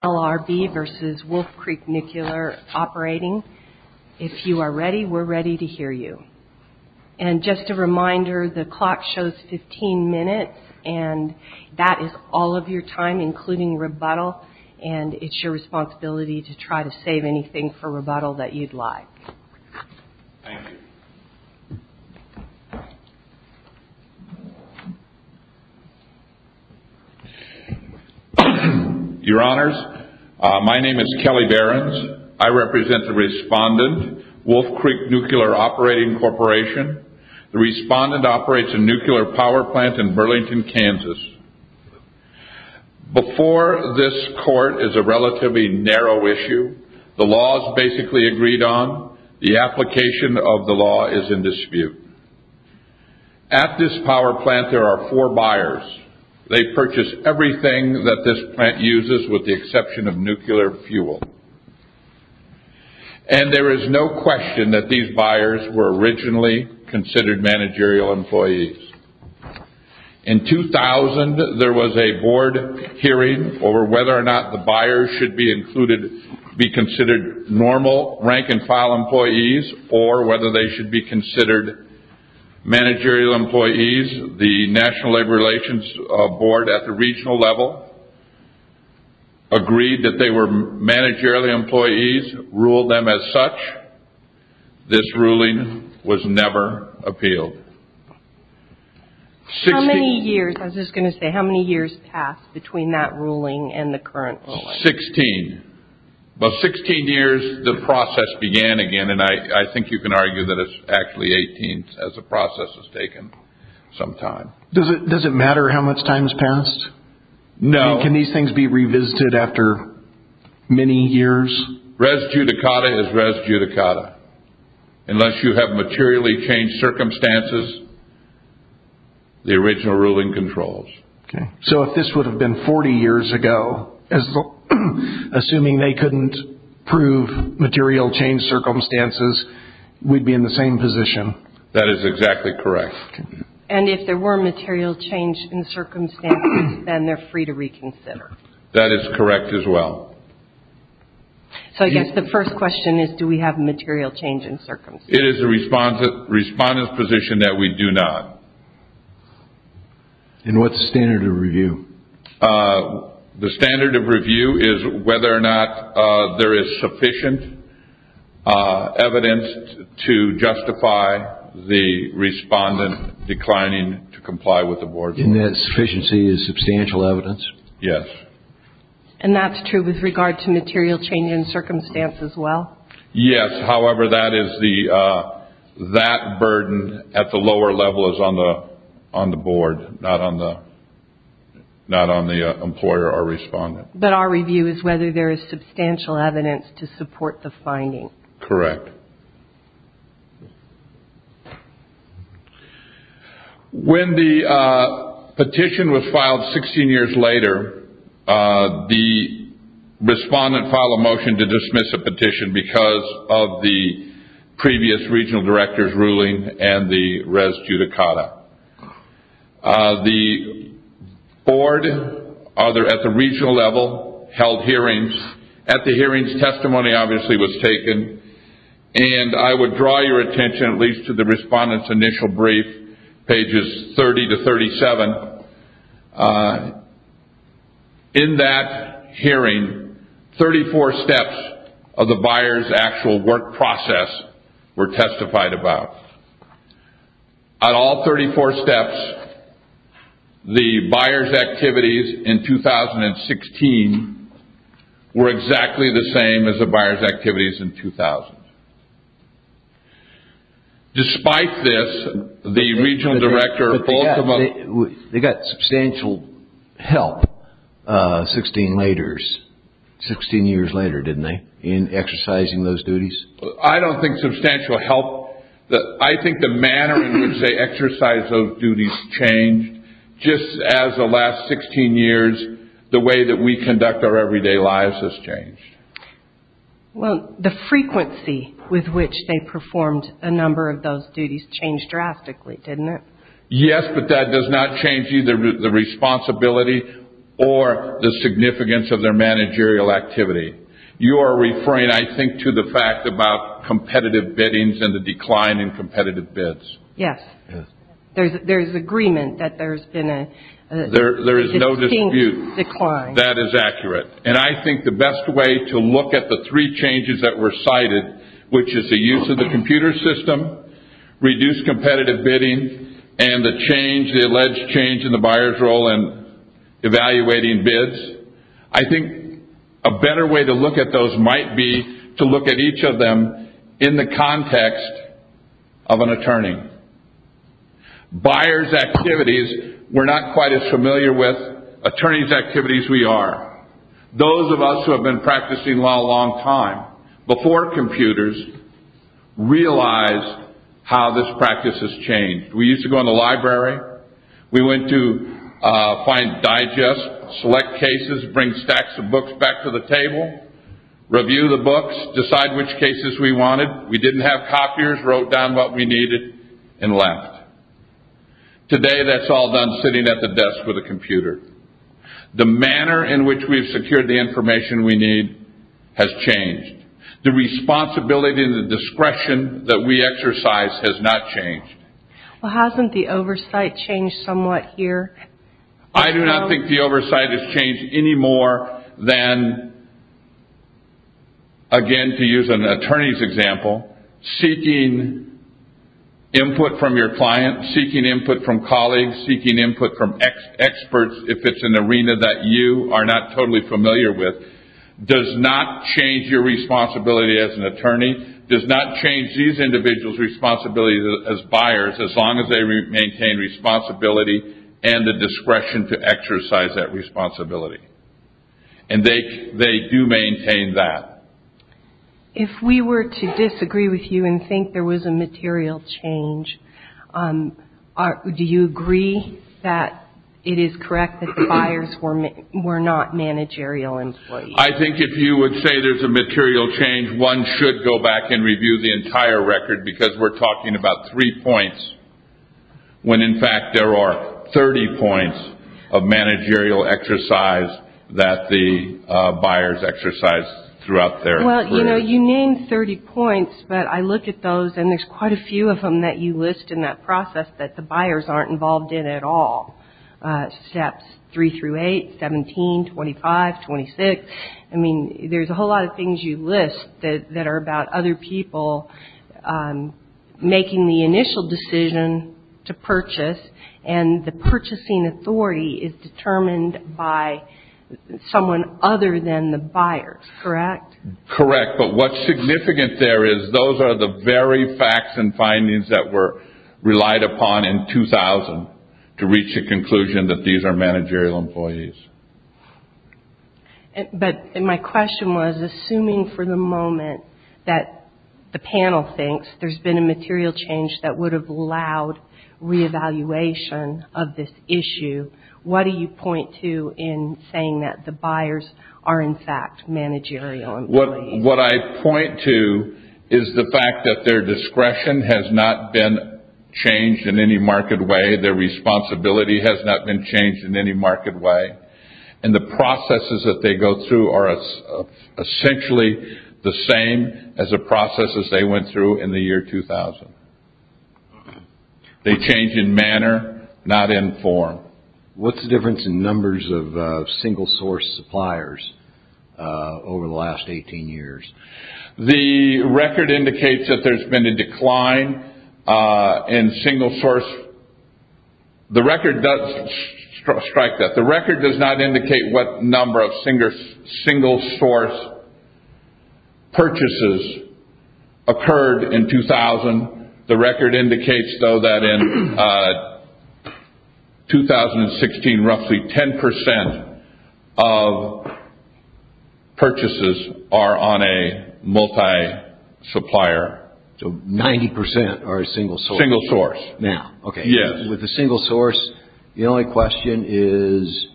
If you are ready, we're ready to hear you. And just a reminder, the clock shows 15 minutes, and that is all of your time, including rebuttal, and it's your responsibility to try to save anything for rebuttal that you'd like. Thank you. Your Honors, my name is Kelly Behrens. I represent the respondent, Wolf Creek Nuclear Operating Corporation. The respondent operates a nuclear power plant in Burlington, Kansas. Before this court is a relatively narrow issue. The law is basically agreed on. The application of the law is in dispute. At this power plant, there are four buyers. They purchase everything that this plant uses with the exception of nuclear fuel. And there is no question that these buyers were originally considered managerial employees. In 2000, there was a board hearing over whether or not the buyers should be considered normal rank-and-file employees or whether they should be considered managerial employees. The National Labor Relations Board at the regional level agreed that they were managerial employees, ruled them as such. This ruling was never appealed. How many years, I was just going to say, how many years passed between that ruling and the current ruling? Sixteen. About 16 years the process began again, and I think you can argue that it's actually 18 as the process has taken some time. Does it matter how much time has passed? No. Can these things be revisited after many years? Res judicata is res judicata. Unless you have materially changed circumstances, the original ruling controls. So if this would have been 40 years ago, assuming they couldn't prove material change circumstances, we'd be in the same position? That is exactly correct. And if there were material change in circumstances, then they're free to reconsider? That is correct as well. So I guess the first question is, do we have a material change in circumstances? It is the respondent's position that we do not. And what's the standard of review? The standard of review is whether or not there is sufficient evidence to justify the respondent declining to comply with the board's rules. And that sufficiency is substantial evidence? Yes. And that's true with regard to material change in circumstances as well? Yes. However, that burden at the lower level is on the board, not on the employer or respondent. But our review is whether there is substantial evidence to support the finding? Correct. When the petition was filed 16 years later, the respondent filed a motion to dismiss the petition because of the previous regional director's ruling and the res judicata. The board at the regional level held hearings. At the hearings, testimony obviously was taken. And I would draw your attention at least to the respondent's initial brief, pages 30 to 37. In that hearing, 34 steps of the buyer's actual work process were testified about. At all 34 steps, the buyer's activities in 2016 were exactly the same as the buyer's activities in 2000. Despite this, the regional director... They got substantial help 16 years later, didn't they, in exercising those duties? I don't think substantial help... I think the manner in which they exercise those duties changed. Just as the last 16 years, the way that we conduct our everyday lives has changed. Well, the frequency with which they performed a number of those duties changed drastically, didn't it? Yes, but that does not change either the responsibility or the significance of their managerial activity. You are referring, I think, to the fact about competitive biddings and the decline in competitive bids. Yes. Yes. There's agreement that there's been a distinct decline. There is no dispute. That is accurate. And I think the best way to look at the three changes that were cited, which is the use of the computer system, reduced competitive bidding, and the change, the alleged change in the buyer's role in evaluating bids, I think a better way to look at those might be to look at each of them in the context of an attorney. Buyer's activities, we're not quite as familiar with. Attorney's activities, we are. Those of us who have been practicing law a long time, before computers, realized how this practice has changed. We used to go in the library. We went to find, digest, select cases, bring stacks of books back to the table, review the books, decide which cases we wanted. We didn't have copiers, wrote down what we needed, and left. Today, that's all done sitting at the desk with a computer. The manner in which we've secured the information we need has changed. The responsibility and the discretion that we exercise has not changed. Well, hasn't the oversight changed somewhat here? I do not think the oversight has changed any more than, again, to use an attorney's example, seeking input from your client, seeking input from colleagues, seeking input from experts, if it's an arena that you are not totally familiar with, does not change your responsibility as an attorney, does not change these individuals' responsibilities as buyers, as long as they maintain responsibility and the discretion to exercise that responsibility. And they do maintain that. If we were to disagree with you and think there was a material change, do you agree that it is correct that the buyers were not managerial employees? I think if you would say there's a material change, one should go back and review the entire record, because we're talking about three points when, in fact, there are 30 points of managerial exercise that the buyers exercise throughout their career. Well, you know, you named 30 points, but I looked at those, and there's quite a few of them that you list in that process that the buyers aren't involved in at all, steps three through eight, 17, 25, 26. I mean, there's a whole lot of things you list that are about other people making the initial decision to purchase, and the purchasing authority is determined by someone other than the buyers, correct? Correct. But what's significant there is those are the very facts and findings that were relied upon in 2000 to reach the conclusion that these are managerial employees. But my question was, assuming for the moment that the panel thinks there's been a material change that would have allowed reevaluation of this issue, what do you point to in saying that the buyers are, in fact, managerial employees? What I point to is the fact that their discretion has not been changed in any marked way. Their responsibility has not been changed in any marked way. And the processes that they go through are essentially the same as the processes they went through in the year 2000. They change in manner, not in form. What's the difference in numbers of single-source suppliers over the last 18 years? The record indicates that there's been a decline in single-source. The record does strike that. The record does not indicate what number of single-source purchases occurred in 2000. The record indicates, though, that in 2016, roughly 10% of purchases are on a multi-supplier. So 90% are single-source. Single-source. Now, okay. Yes. With the single-source, the only question is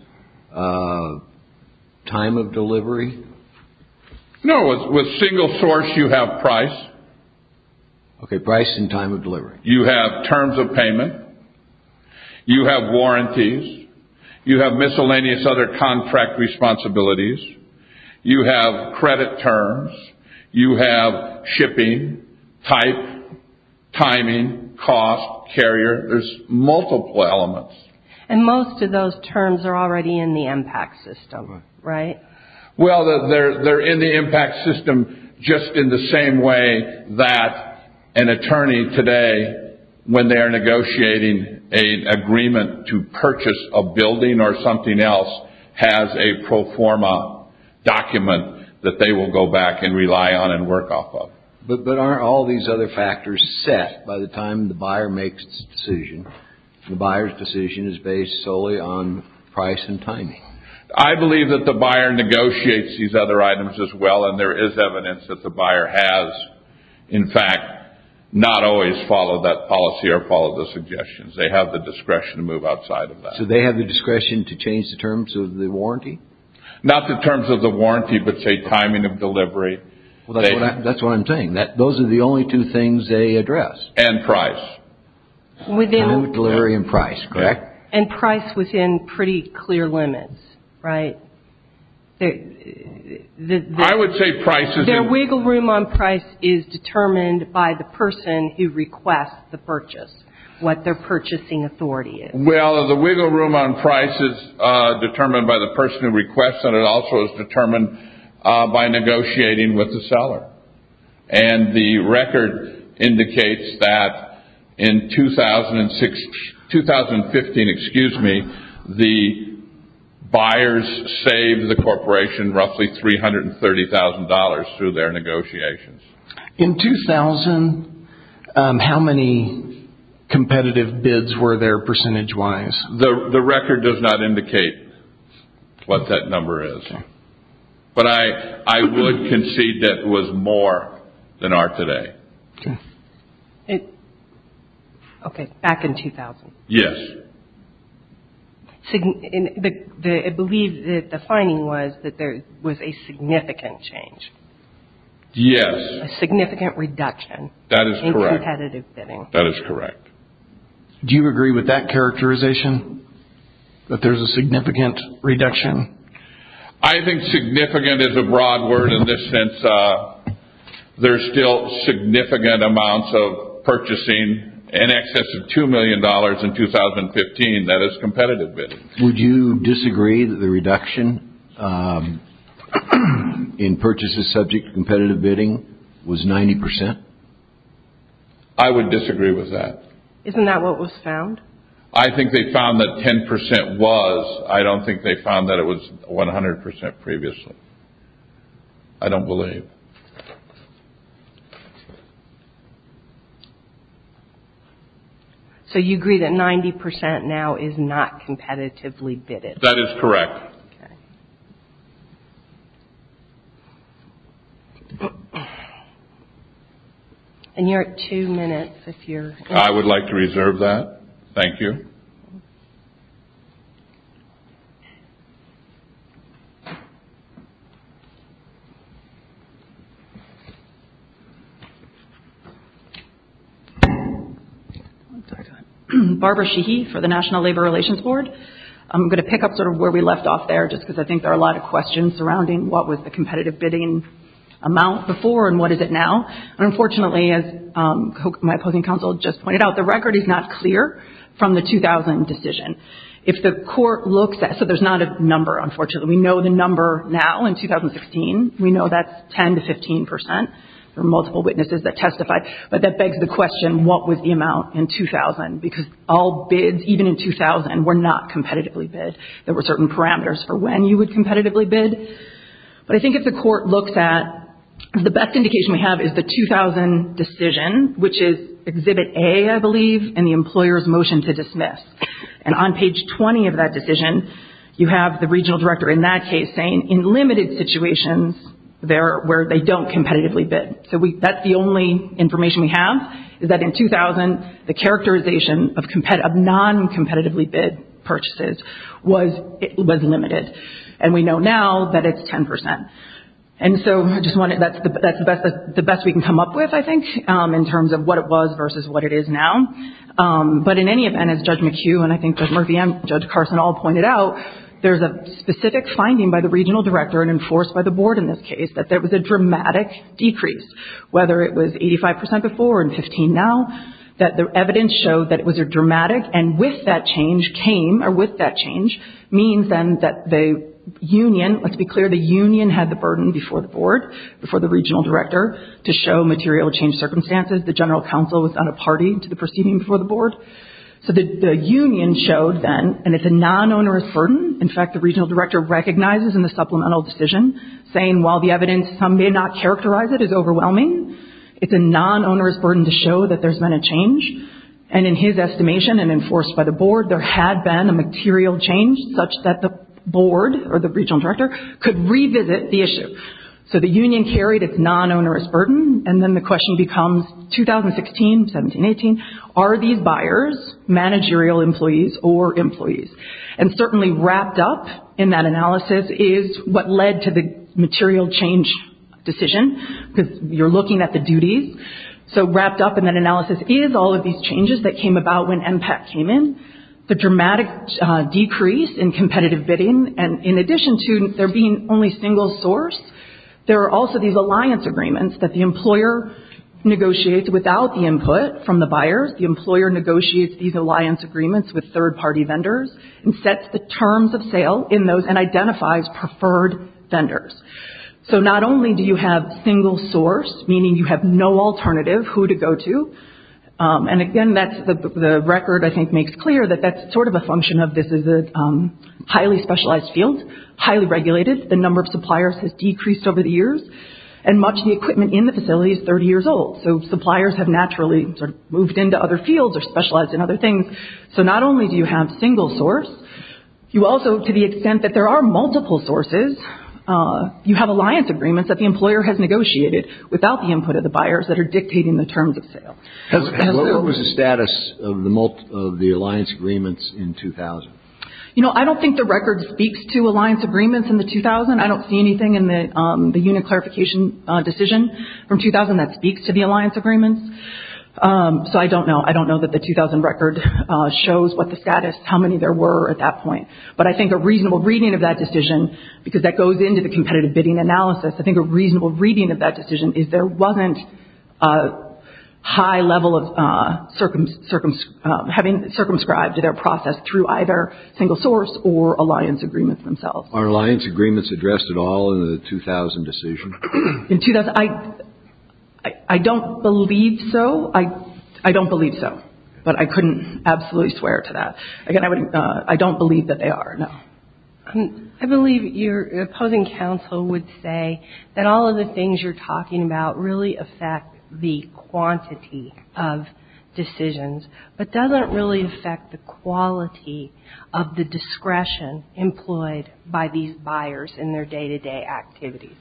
time of delivery? No, with single-source, you have price. Okay, price and time of delivery. You have terms of payment. You have warranties. You have miscellaneous other contract responsibilities. You have credit terms. You have shipping, type, timing, cost, carrier. There's multiple elements. And most of those terms are already in the impact system, right? Well, they're in the impact system just in the same way that an attorney today, when they are negotiating an agreement to purchase a building or something else, has a pro forma document that they will go back and rely on and work off of. But aren't all these other factors set by the time the buyer makes the decision? The buyer's decision is based solely on price and timing. I believe that the buyer negotiates these other items as well, and there is evidence that the buyer has, in fact, not always followed that policy or followed the suggestions. They have the discretion to move outside of that. So they have the discretion to change the terms of the warranty? Not the terms of the warranty, but, say, timing of delivery. That's what I'm saying. Those are the only two things they address. And price. Delivery and price, correct? And price within pretty clear limits, right? I would say price is... Their wiggle room on price is determined by the person who requests the purchase, what their purchasing authority is. Well, the wiggle room on price is determined by the person who requests, and it also is determined by negotiating with the seller. And the record indicates that in 2015, the buyers saved the corporation roughly $330,000 through their negotiations. In 2000, how many competitive bids were there percentage-wise? The record does not indicate what that number is. But I would concede that it was more than are today. Okay, back in 2000. Yes. I believe that the finding was that there was a significant change. Yes. A significant reduction in competitive bidding. That is correct. Do you agree with that characterization, that there's a significant reduction? I think significant is a broad word in this sense. There's still significant amounts of purchasing in excess of $2 million in 2015. That is competitive bidding. Would you disagree that the reduction in purchases subject to competitive bidding was 90%? I would disagree with that. Isn't that what was found? I think they found that 10% was. I don't think they found that it was 100% previously. I don't believe. So you agree that 90% now is not competitively bidded? That is correct. Okay. And you're at two minutes if you're. I would like to reserve that. Thank you. Okay. Barbara Sheehy for the National Labor Relations Board. I'm going to pick up sort of where we left off there, just because I think there are a lot of questions surrounding what was the competitive bidding amount before and what is it now. Unfortunately, as my opposing counsel just pointed out, the record is not clear from the 2000 decision. If the court looks at, so there's not a number, unfortunately. We know the number now in 2016. We know that's 10% to 15%. There are multiple witnesses that testified. But that begs the question, what was the amount in 2000? Because all bids, even in 2000, were not competitively bid. There were certain parameters for when you would competitively bid. But I think if the court looks at, the best indication we have is the 2000 decision, which is Exhibit A, I believe, and the employer's motion to dismiss. And on page 20 of that decision, you have the regional director in that case saying, in limited situations where they don't competitively bid. So that's the only information we have, is that in 2000, the characterization of non-competitively bid purchases was limited. And we know now that it's 10%. And so I just wanted, that's the best we can come up with, I think, in terms of what it was versus what it is now. But in any event, as Judge McHugh and I think Judge Murphy and Judge Carson all pointed out, there's a specific finding by the regional director and enforced by the board in this case, that there was a dramatic decrease, whether it was 85% before or 15% now, that the evidence showed that it was a dramatic and with that change came, or with that change means then that the union, let's be clear, the union had the burden before the board, before the regional director, to show material change circumstances. The general counsel was on a party to the proceeding before the board. So the union showed then, and it's a non-onerous burden. In fact, the regional director recognizes in the supplemental decision, saying while the evidence, some may not characterize it as overwhelming, it's a non-onerous burden to show that there's been a change. And in his estimation and enforced by the board, there had been a material change such that the board or the regional director could revisit the issue. So the union carried its non-onerous burden. And then the question becomes, 2016, 17, 18, are these buyers managerial employees or employees? And certainly wrapped up in that analysis is what led to the material change decision, because you're looking at the duties. So wrapped up in that analysis is all of these changes that came about when MPAC came in, the dramatic decrease in competitive bidding, and in addition to there being only single source, there are also these alliance agreements that the employer negotiates without the input from the buyers. The employer negotiates these alliance agreements with third-party vendors and sets the terms of sale in those and identifies preferred vendors. So not only do you have single source, meaning you have no alternative who to go to, and again that's the record I think makes clear that that's sort of a function of this is a highly specialized field, highly regulated, the number of suppliers has decreased over the years, and much of the equipment in the facility is 30 years old. So suppliers have naturally sort of moved into other fields or specialized in other things. So not only do you have single source, you also, to the extent that there are multiple sources, you have alliance agreements that the employer has negotiated without the input of the buyers that are dictating the terms of sale. What was the status of the alliance agreements in 2000? You know, I don't think the record speaks to alliance agreements in the 2000. I don't see anything in the unit clarification decision from 2000 that speaks to the alliance agreements. So I don't know. I don't know that the 2000 record shows what the status, how many there were at that point. But I think a reasonable reading of that decision, because that goes into the competitive bidding analysis, I think a reasonable reading of that decision is there wasn't a high level of having circumscribed their process through either single source or alliance agreements themselves. Are alliance agreements addressed at all in the 2000 decision? In 2000, I don't believe so. I don't believe so. But I couldn't absolutely swear to that. Again, I don't believe that they are, no. I believe your opposing counsel would say that all of the things you're talking about really affect the quantity of decisions, but doesn't really affect the quality of the discretion employed by these buyers in their day-to-day activities.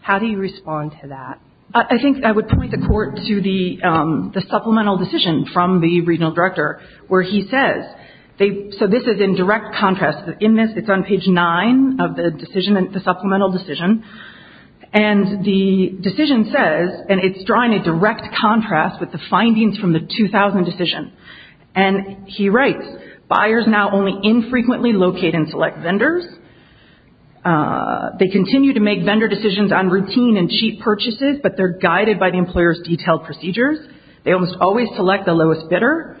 How do you respond to that? I think I would point the Court to the supplemental decision from the Regional Director where he says, so this is in direct contrast. In this, it's on page 9 of the decision, the supplemental decision. And the decision says, and it's drawing a direct contrast with the findings from the 2000 decision. And he writes, Buyers now only infrequently locate and select vendors. They continue to make vendor decisions on routine and cheap purchases, but they're guided by the employer's detailed procedures. They almost always select the lowest bidder.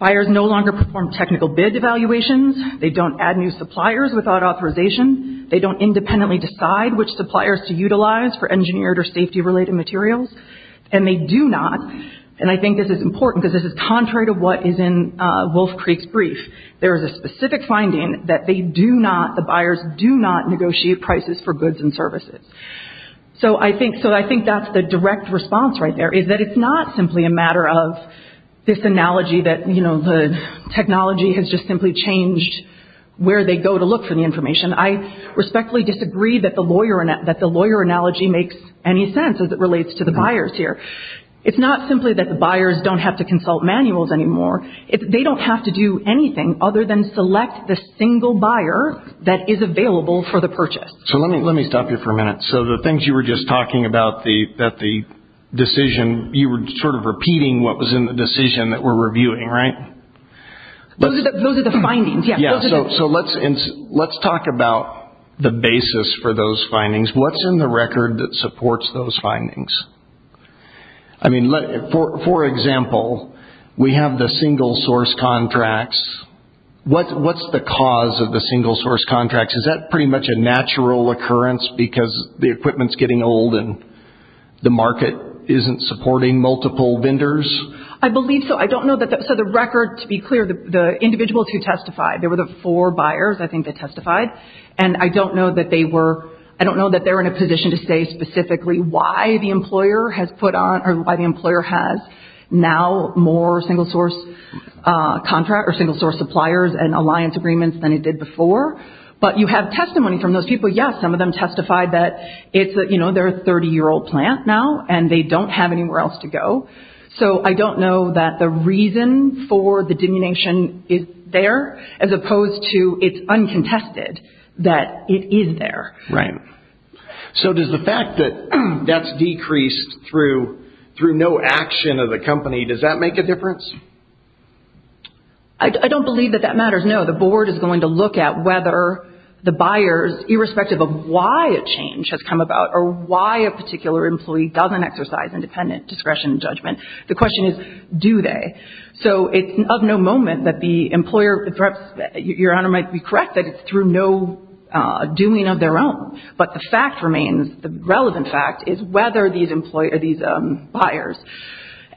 Buyers no longer perform technical bid evaluations. They don't add new suppliers without authorization. They don't independently decide which suppliers to utilize for engineered or safety-related materials. And they do not, and I think this is important because this is contrary to what is in Wolf Creek's brief. There is a specific finding that they do not, the buyers do not negotiate prices for goods and services. So I think that's the direct response right there, is that it's not simply a matter of this analogy that, you know, the technology has just simply changed where they go to look for the information. I respectfully disagree that the lawyer analogy makes any sense as it relates to the buyers here. It's not simply that the buyers don't have to consult manuals anymore. They don't have to do anything other than select the single buyer that is available for the purchase. So let me stop you for a minute. So the things you were just talking about, that the decision, you were sort of repeating what was in the decision that we're reviewing, right? Those are the findings, yes. Yeah, so let's talk about the basis for those findings. What's in the record that supports those findings? I mean, for example, we have the single source contracts. What's the cause of the single source contracts? Is that pretty much a natural occurrence because the equipment's getting old and the market isn't supporting multiple vendors? I believe so. I don't know that the record, to be clear, the individuals who testified, there were the four buyers I think that testified, and I don't know that they were in a position to say specifically why the employer has put on or why the employer has now more single source contracts or single source suppliers and alliance agreements than it did before. But you have testimony from those people. Yes, some of them testified that, you know, they're a 30-year-old plant now and they don't have anywhere else to go. So I don't know that the reason for the diminution is there as opposed to it's uncontested that it is there. Right. So does the fact that that's decreased through no action of the company, does that make a difference? I don't believe that that matters, no. The board is going to look at whether the buyers, irrespective of why a change has come about or why a particular employee doesn't exercise independent discretion and judgment. The question is do they? So it's of no moment that the employer, perhaps Your Honor might be correct, that it's through no doing of their own. But the fact remains, the relevant fact, is whether these buyers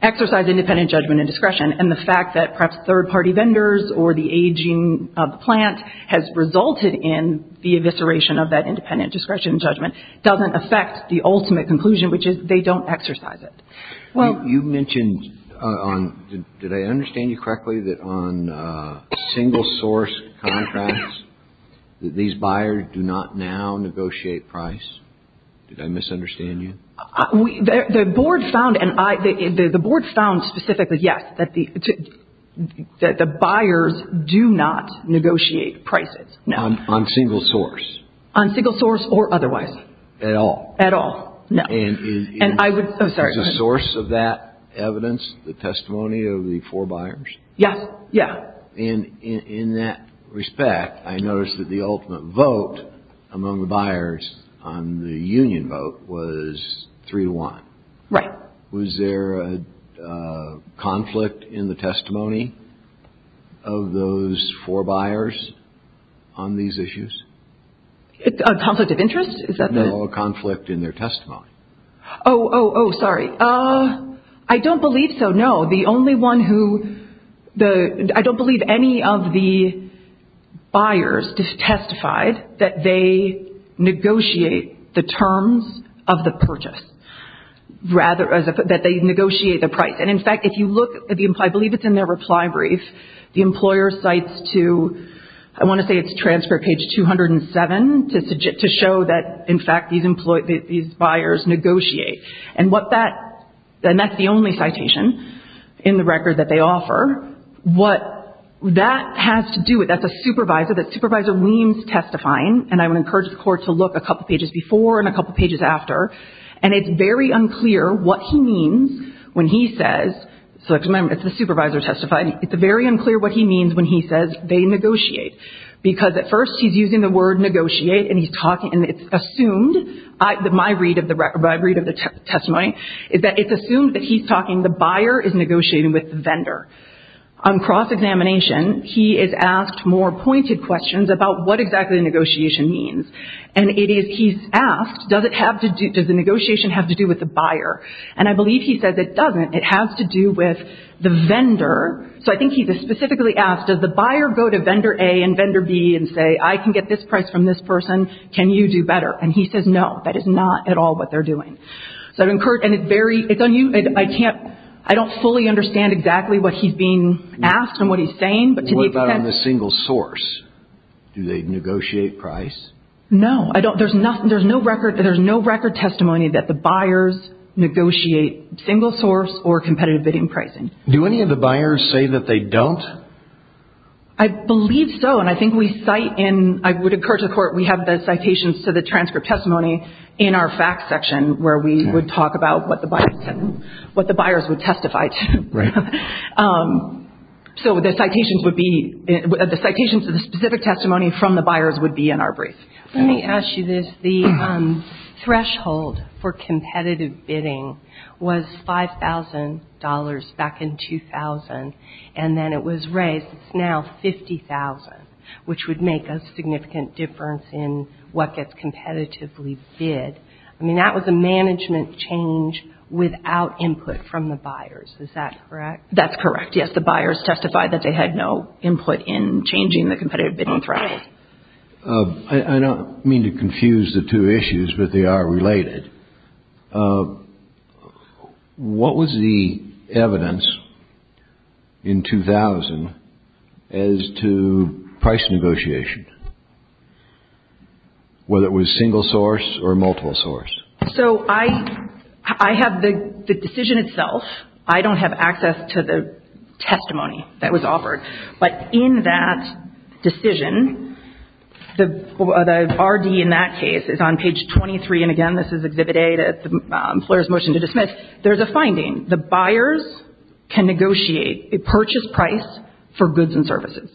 exercise independent judgment and discretion and the fact that perhaps third-party vendors or the aging of the plant has resulted in the evisceration of that independent discretion and judgment doesn't affect the ultimate conclusion, which is they don't exercise it. You mentioned, did I understand you correctly, that on single source contracts these buyers do not now negotiate price? Did I misunderstand you? The board found specifically, yes, that the buyers do not negotiate prices. On single source? On single source or otherwise. At all? At all, no. And is the source of that evidence the testimony of the four buyers? Yes, yes. And in that respect, I noticed that the ultimate vote among the buyers on the union vote was 3-1. Right. Was there a conflict in the testimony of those four buyers on these issues? A conflict of interest? No, a conflict in their testimony. Oh, oh, oh, sorry. I don't believe so, no. The only one who the – I don't believe any of the buyers testified that they negotiate the terms of the purchase. Rather, that they negotiate the price. And, in fact, if you look at the – I believe it's in their reply brief. The employer cites to – I want to say it's transfer page 207 to show that, in fact, these buyers negotiate. And what that – and that's the only citation in the record that they offer. What that has to do with – that's a supervisor. That supervisor leans testifying, and I would encourage the court to look a couple pages before and a couple pages after. And it's very unclear what he means when he says – so, remember, it's the supervisor testifying. It's very unclear what he means when he says they negotiate. Because, at first, he's using the word negotiate, and he's talking – and it's assumed – my read of the testimony is that it's assumed that he's talking – the buyer is negotiating with the vendor. On cross-examination, he is asked more pointed questions about what exactly the negotiation means. And it is – he's asked, does it have to do – does the negotiation have to do with the buyer? And I believe he says it doesn't. It has to do with the vendor. So, I think he specifically asked, does the buyer go to vendor A and vendor B and say, I can get this price from this person. Can you do better? And he says, no, that is not at all what they're doing. So, I would encourage – and it's very – it's unusual. I can't – I don't fully understand exactly what he's being asked and what he's saying. But to the extent – What about on the single source? Do they negotiate price? No, I don't – there's nothing – there's no record – there's no record testimony that the buyers negotiate single source or competitive bidding pricing. Do any of the buyers say that they don't? I believe so. And I think we cite in – I would encourage the court – we have the citations to the transcript testimony in our facts section where we would talk about what the buyers would testify to. Right. So, the citations would be – the citations of the specific testimony from the buyers would be in our brief. Let me ask you this. The threshold for competitive bidding was $5,000 back in 2000, and then it was raised. It's now $50,000, which would make a significant difference in what gets competitively bid. I mean, that was a management change without input from the buyers. Is that correct? That's correct, yes. The buyers testified that they had no input in changing the competitive bidding threshold. I don't mean to confuse the two issues, but they are related. What was the evidence in 2000 as to price negotiation, whether it was single source or multiple source? So, I have the decision itself. I don't have access to the testimony that was offered, but in that decision, the RD in that case is on page 23, and again, this is Exhibit A, the employer's motion to dismiss. There's a finding. The buyers can negotiate a purchase price for goods and services.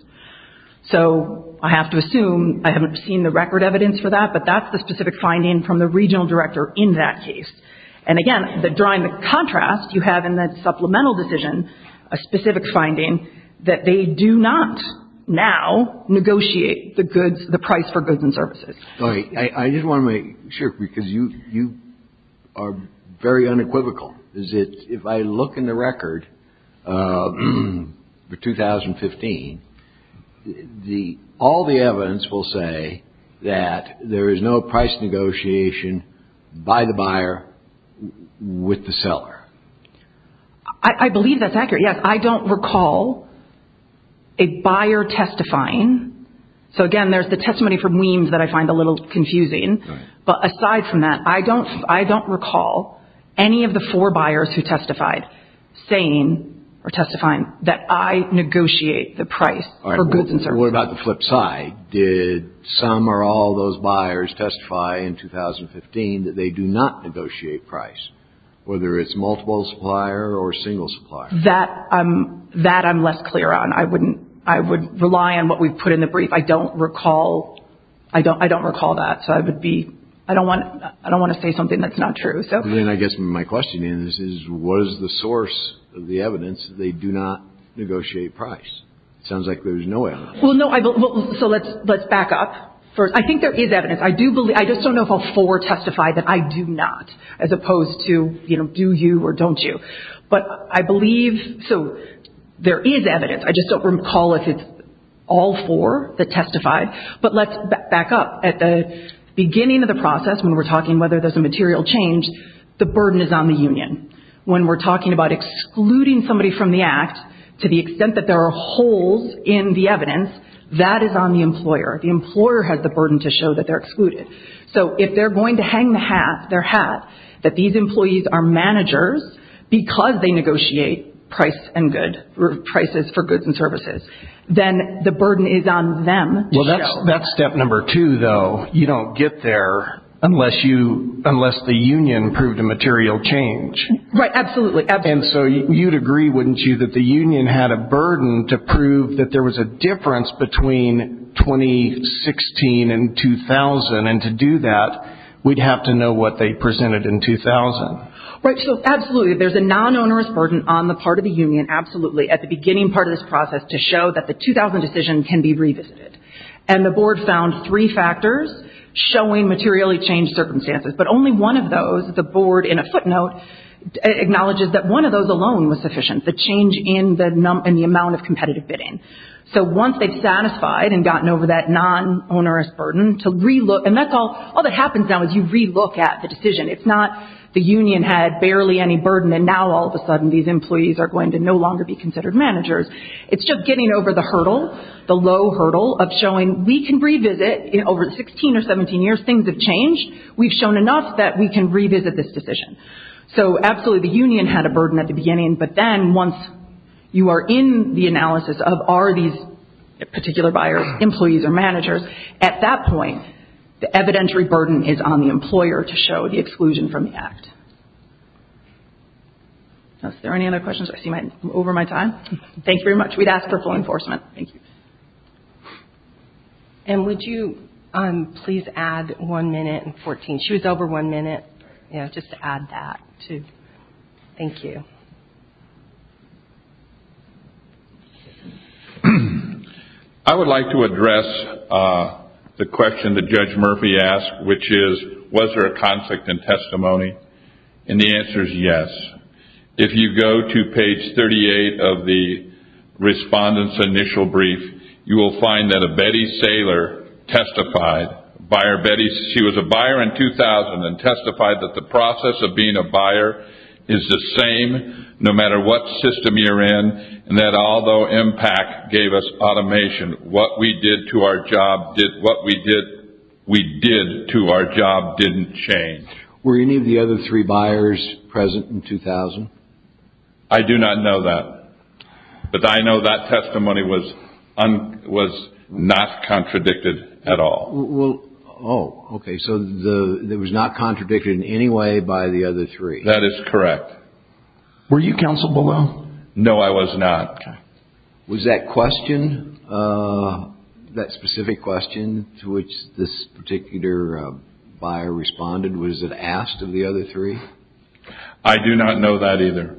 So, I have to assume – I haven't seen the record evidence for that, but that's the specific finding from the regional director in that case, and again, drawing the contrast, you have in that supplemental decision a specific finding that they do not now negotiate the price for goods and services. All right. I just want to make sure, because you are very unequivocal. If I look in the record for 2015, all the evidence will say that there is no price negotiation by the buyer with the seller. I believe that's accurate. Yes, I don't recall a buyer testifying. So, again, there's the testimony from Weems that I find a little confusing. But aside from that, I don't recall any of the four buyers who testified saying or testifying that I negotiate the price for goods and services. All right. What about the flip side? Did some or all those buyers testify in 2015 that they do not negotiate price, whether it's multiple supplier or single supplier? That I'm less clear on. I would rely on what we've put in the brief. I don't recall that, so I don't want to say something that's not true. Then I guess my question is, was the source of the evidence they do not negotiate price? It sounds like there's no evidence. Well, no. So let's back up. I think there is evidence. I just don't know if all four testified that I do not, as opposed to do you or don't you. But I believe there is evidence. I just don't recall if it's all four that testified. But let's back up. At the beginning of the process, when we're talking whether there's a material change, the burden is on the union. When we're talking about excluding somebody from the act, to the extent that there are holes in the evidence, that is on the employer. The employer has the burden to show that they're excluded. So if they're going to hang their hat that these employees are managers because they negotiate price and good, prices for goods and services, then the burden is on them to show. Well, that's step number two, though. You don't get there unless the union proved a material change. Right, absolutely. And so you'd agree, wouldn't you, that the union had a burden to prove that there was a difference between 2016 and 2000, and to do that, we'd have to know what they presented in 2000. Right, so absolutely. There's a non-onerous burden on the part of the union, absolutely, at the beginning part of this process to show that the 2000 decision can be revisited. And the board found three factors showing materially changed circumstances, but only one of those, the board, in a footnote, acknowledges that one of those alone was sufficient, the change in the amount of competitive bidding. So once they've satisfied and gotten over that non-onerous burden, and all that happens now is you re-look at the decision. It's not the union had barely any burden, and now all of a sudden these employees are going to no longer be considered managers. It's just getting over the hurdle, the low hurdle, of showing we can revisit over 16 or 17 years things have changed. We've shown enough that we can revisit this decision. So absolutely, the union had a burden at the beginning, but then once you are in the analysis of are these particular buyers employees or managers, at that point, the evidentiary burden is on the employer to show the exclusion from the act. Are there any other questions? I see I'm over my time. Thank you very much. We'd ask for full enforcement. Thank you. And would you please add one minute and 14. She was over one minute. Yeah, just to add that, too. Thank you. I would like to address the question that Judge Murphy asked, which is, was there a conflict in testimony? And the answer is yes. If you go to page 38 of the respondent's initial brief, you will find that a Betty Saylor testified. She was a buyer in 2000 and testified that the process of being a buyer is the same no matter what system you're in, and that although MPAC gave us automation, what we did to our job didn't change. Were any of the other three buyers present in 2000? I do not know that. But I know that testimony was not contradicted at all. Oh, okay, so it was not contradicted in any way by the other three. That is correct. Were you counseled below? No, I was not. Was that question, that specific question to which this particular buyer responded, was it asked of the other three? I do not know that either.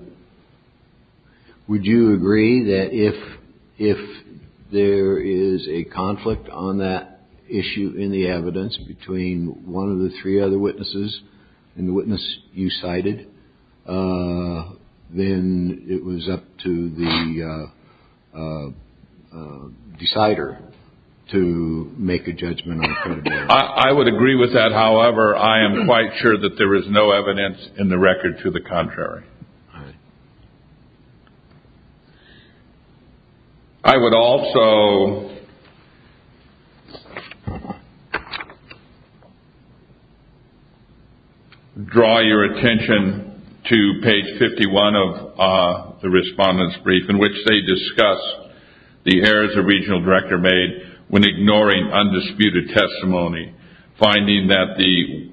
Would you agree that if there is a conflict on that issue in the evidence between one of the three other witnesses and the witness you cited, then it was up to the decider to make a judgment? I would agree with that. However, I am quite sure that there is no evidence in the record to the contrary. I would also draw your attention to page 51 of the respondent's brief, in which they discuss the errors a regional director made when ignoring undisputed testimony, finding that the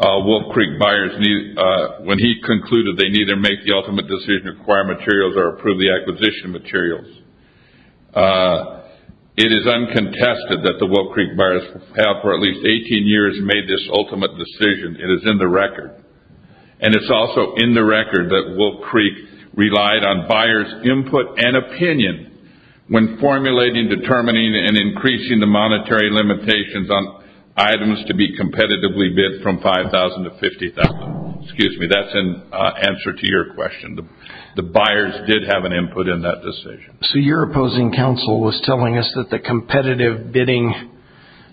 Wolf Creek buyers, when he concluded they neither make the ultimate decision to acquire materials or approve the acquisition materials. It is uncontested that the Wolf Creek buyers have for at least 18 years made this ultimate decision. It is in the record. And it is also in the record that Wolf Creek relied on buyers' input and opinion when formulating, determining, and increasing the monetary limitations on items to be competitively bid from $5,000 to $50,000. That is in answer to your question. The buyers did have an input in that decision. So your opposing counsel was telling us that the competitive bidding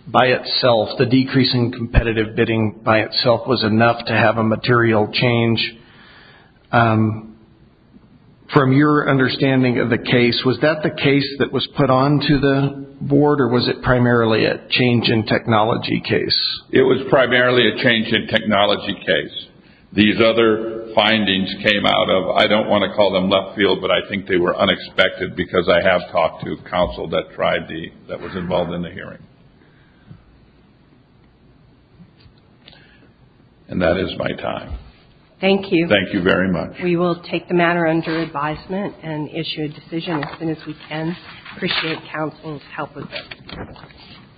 by itself, the decrease in competitive bidding by itself was enough to have a material change. From your understanding of the case, was that the case that was put onto the board, or was it primarily a change in technology case? It was primarily a change in technology case. These other findings came out of, I don't want to call them left field, but I think they were unexpected because I have talked to counsel that was involved in the hearing. And that is my time. Thank you. Thank you very much. We will take the matter under advisement and issue a decision as soon as we can. Appreciate counsel's help with it.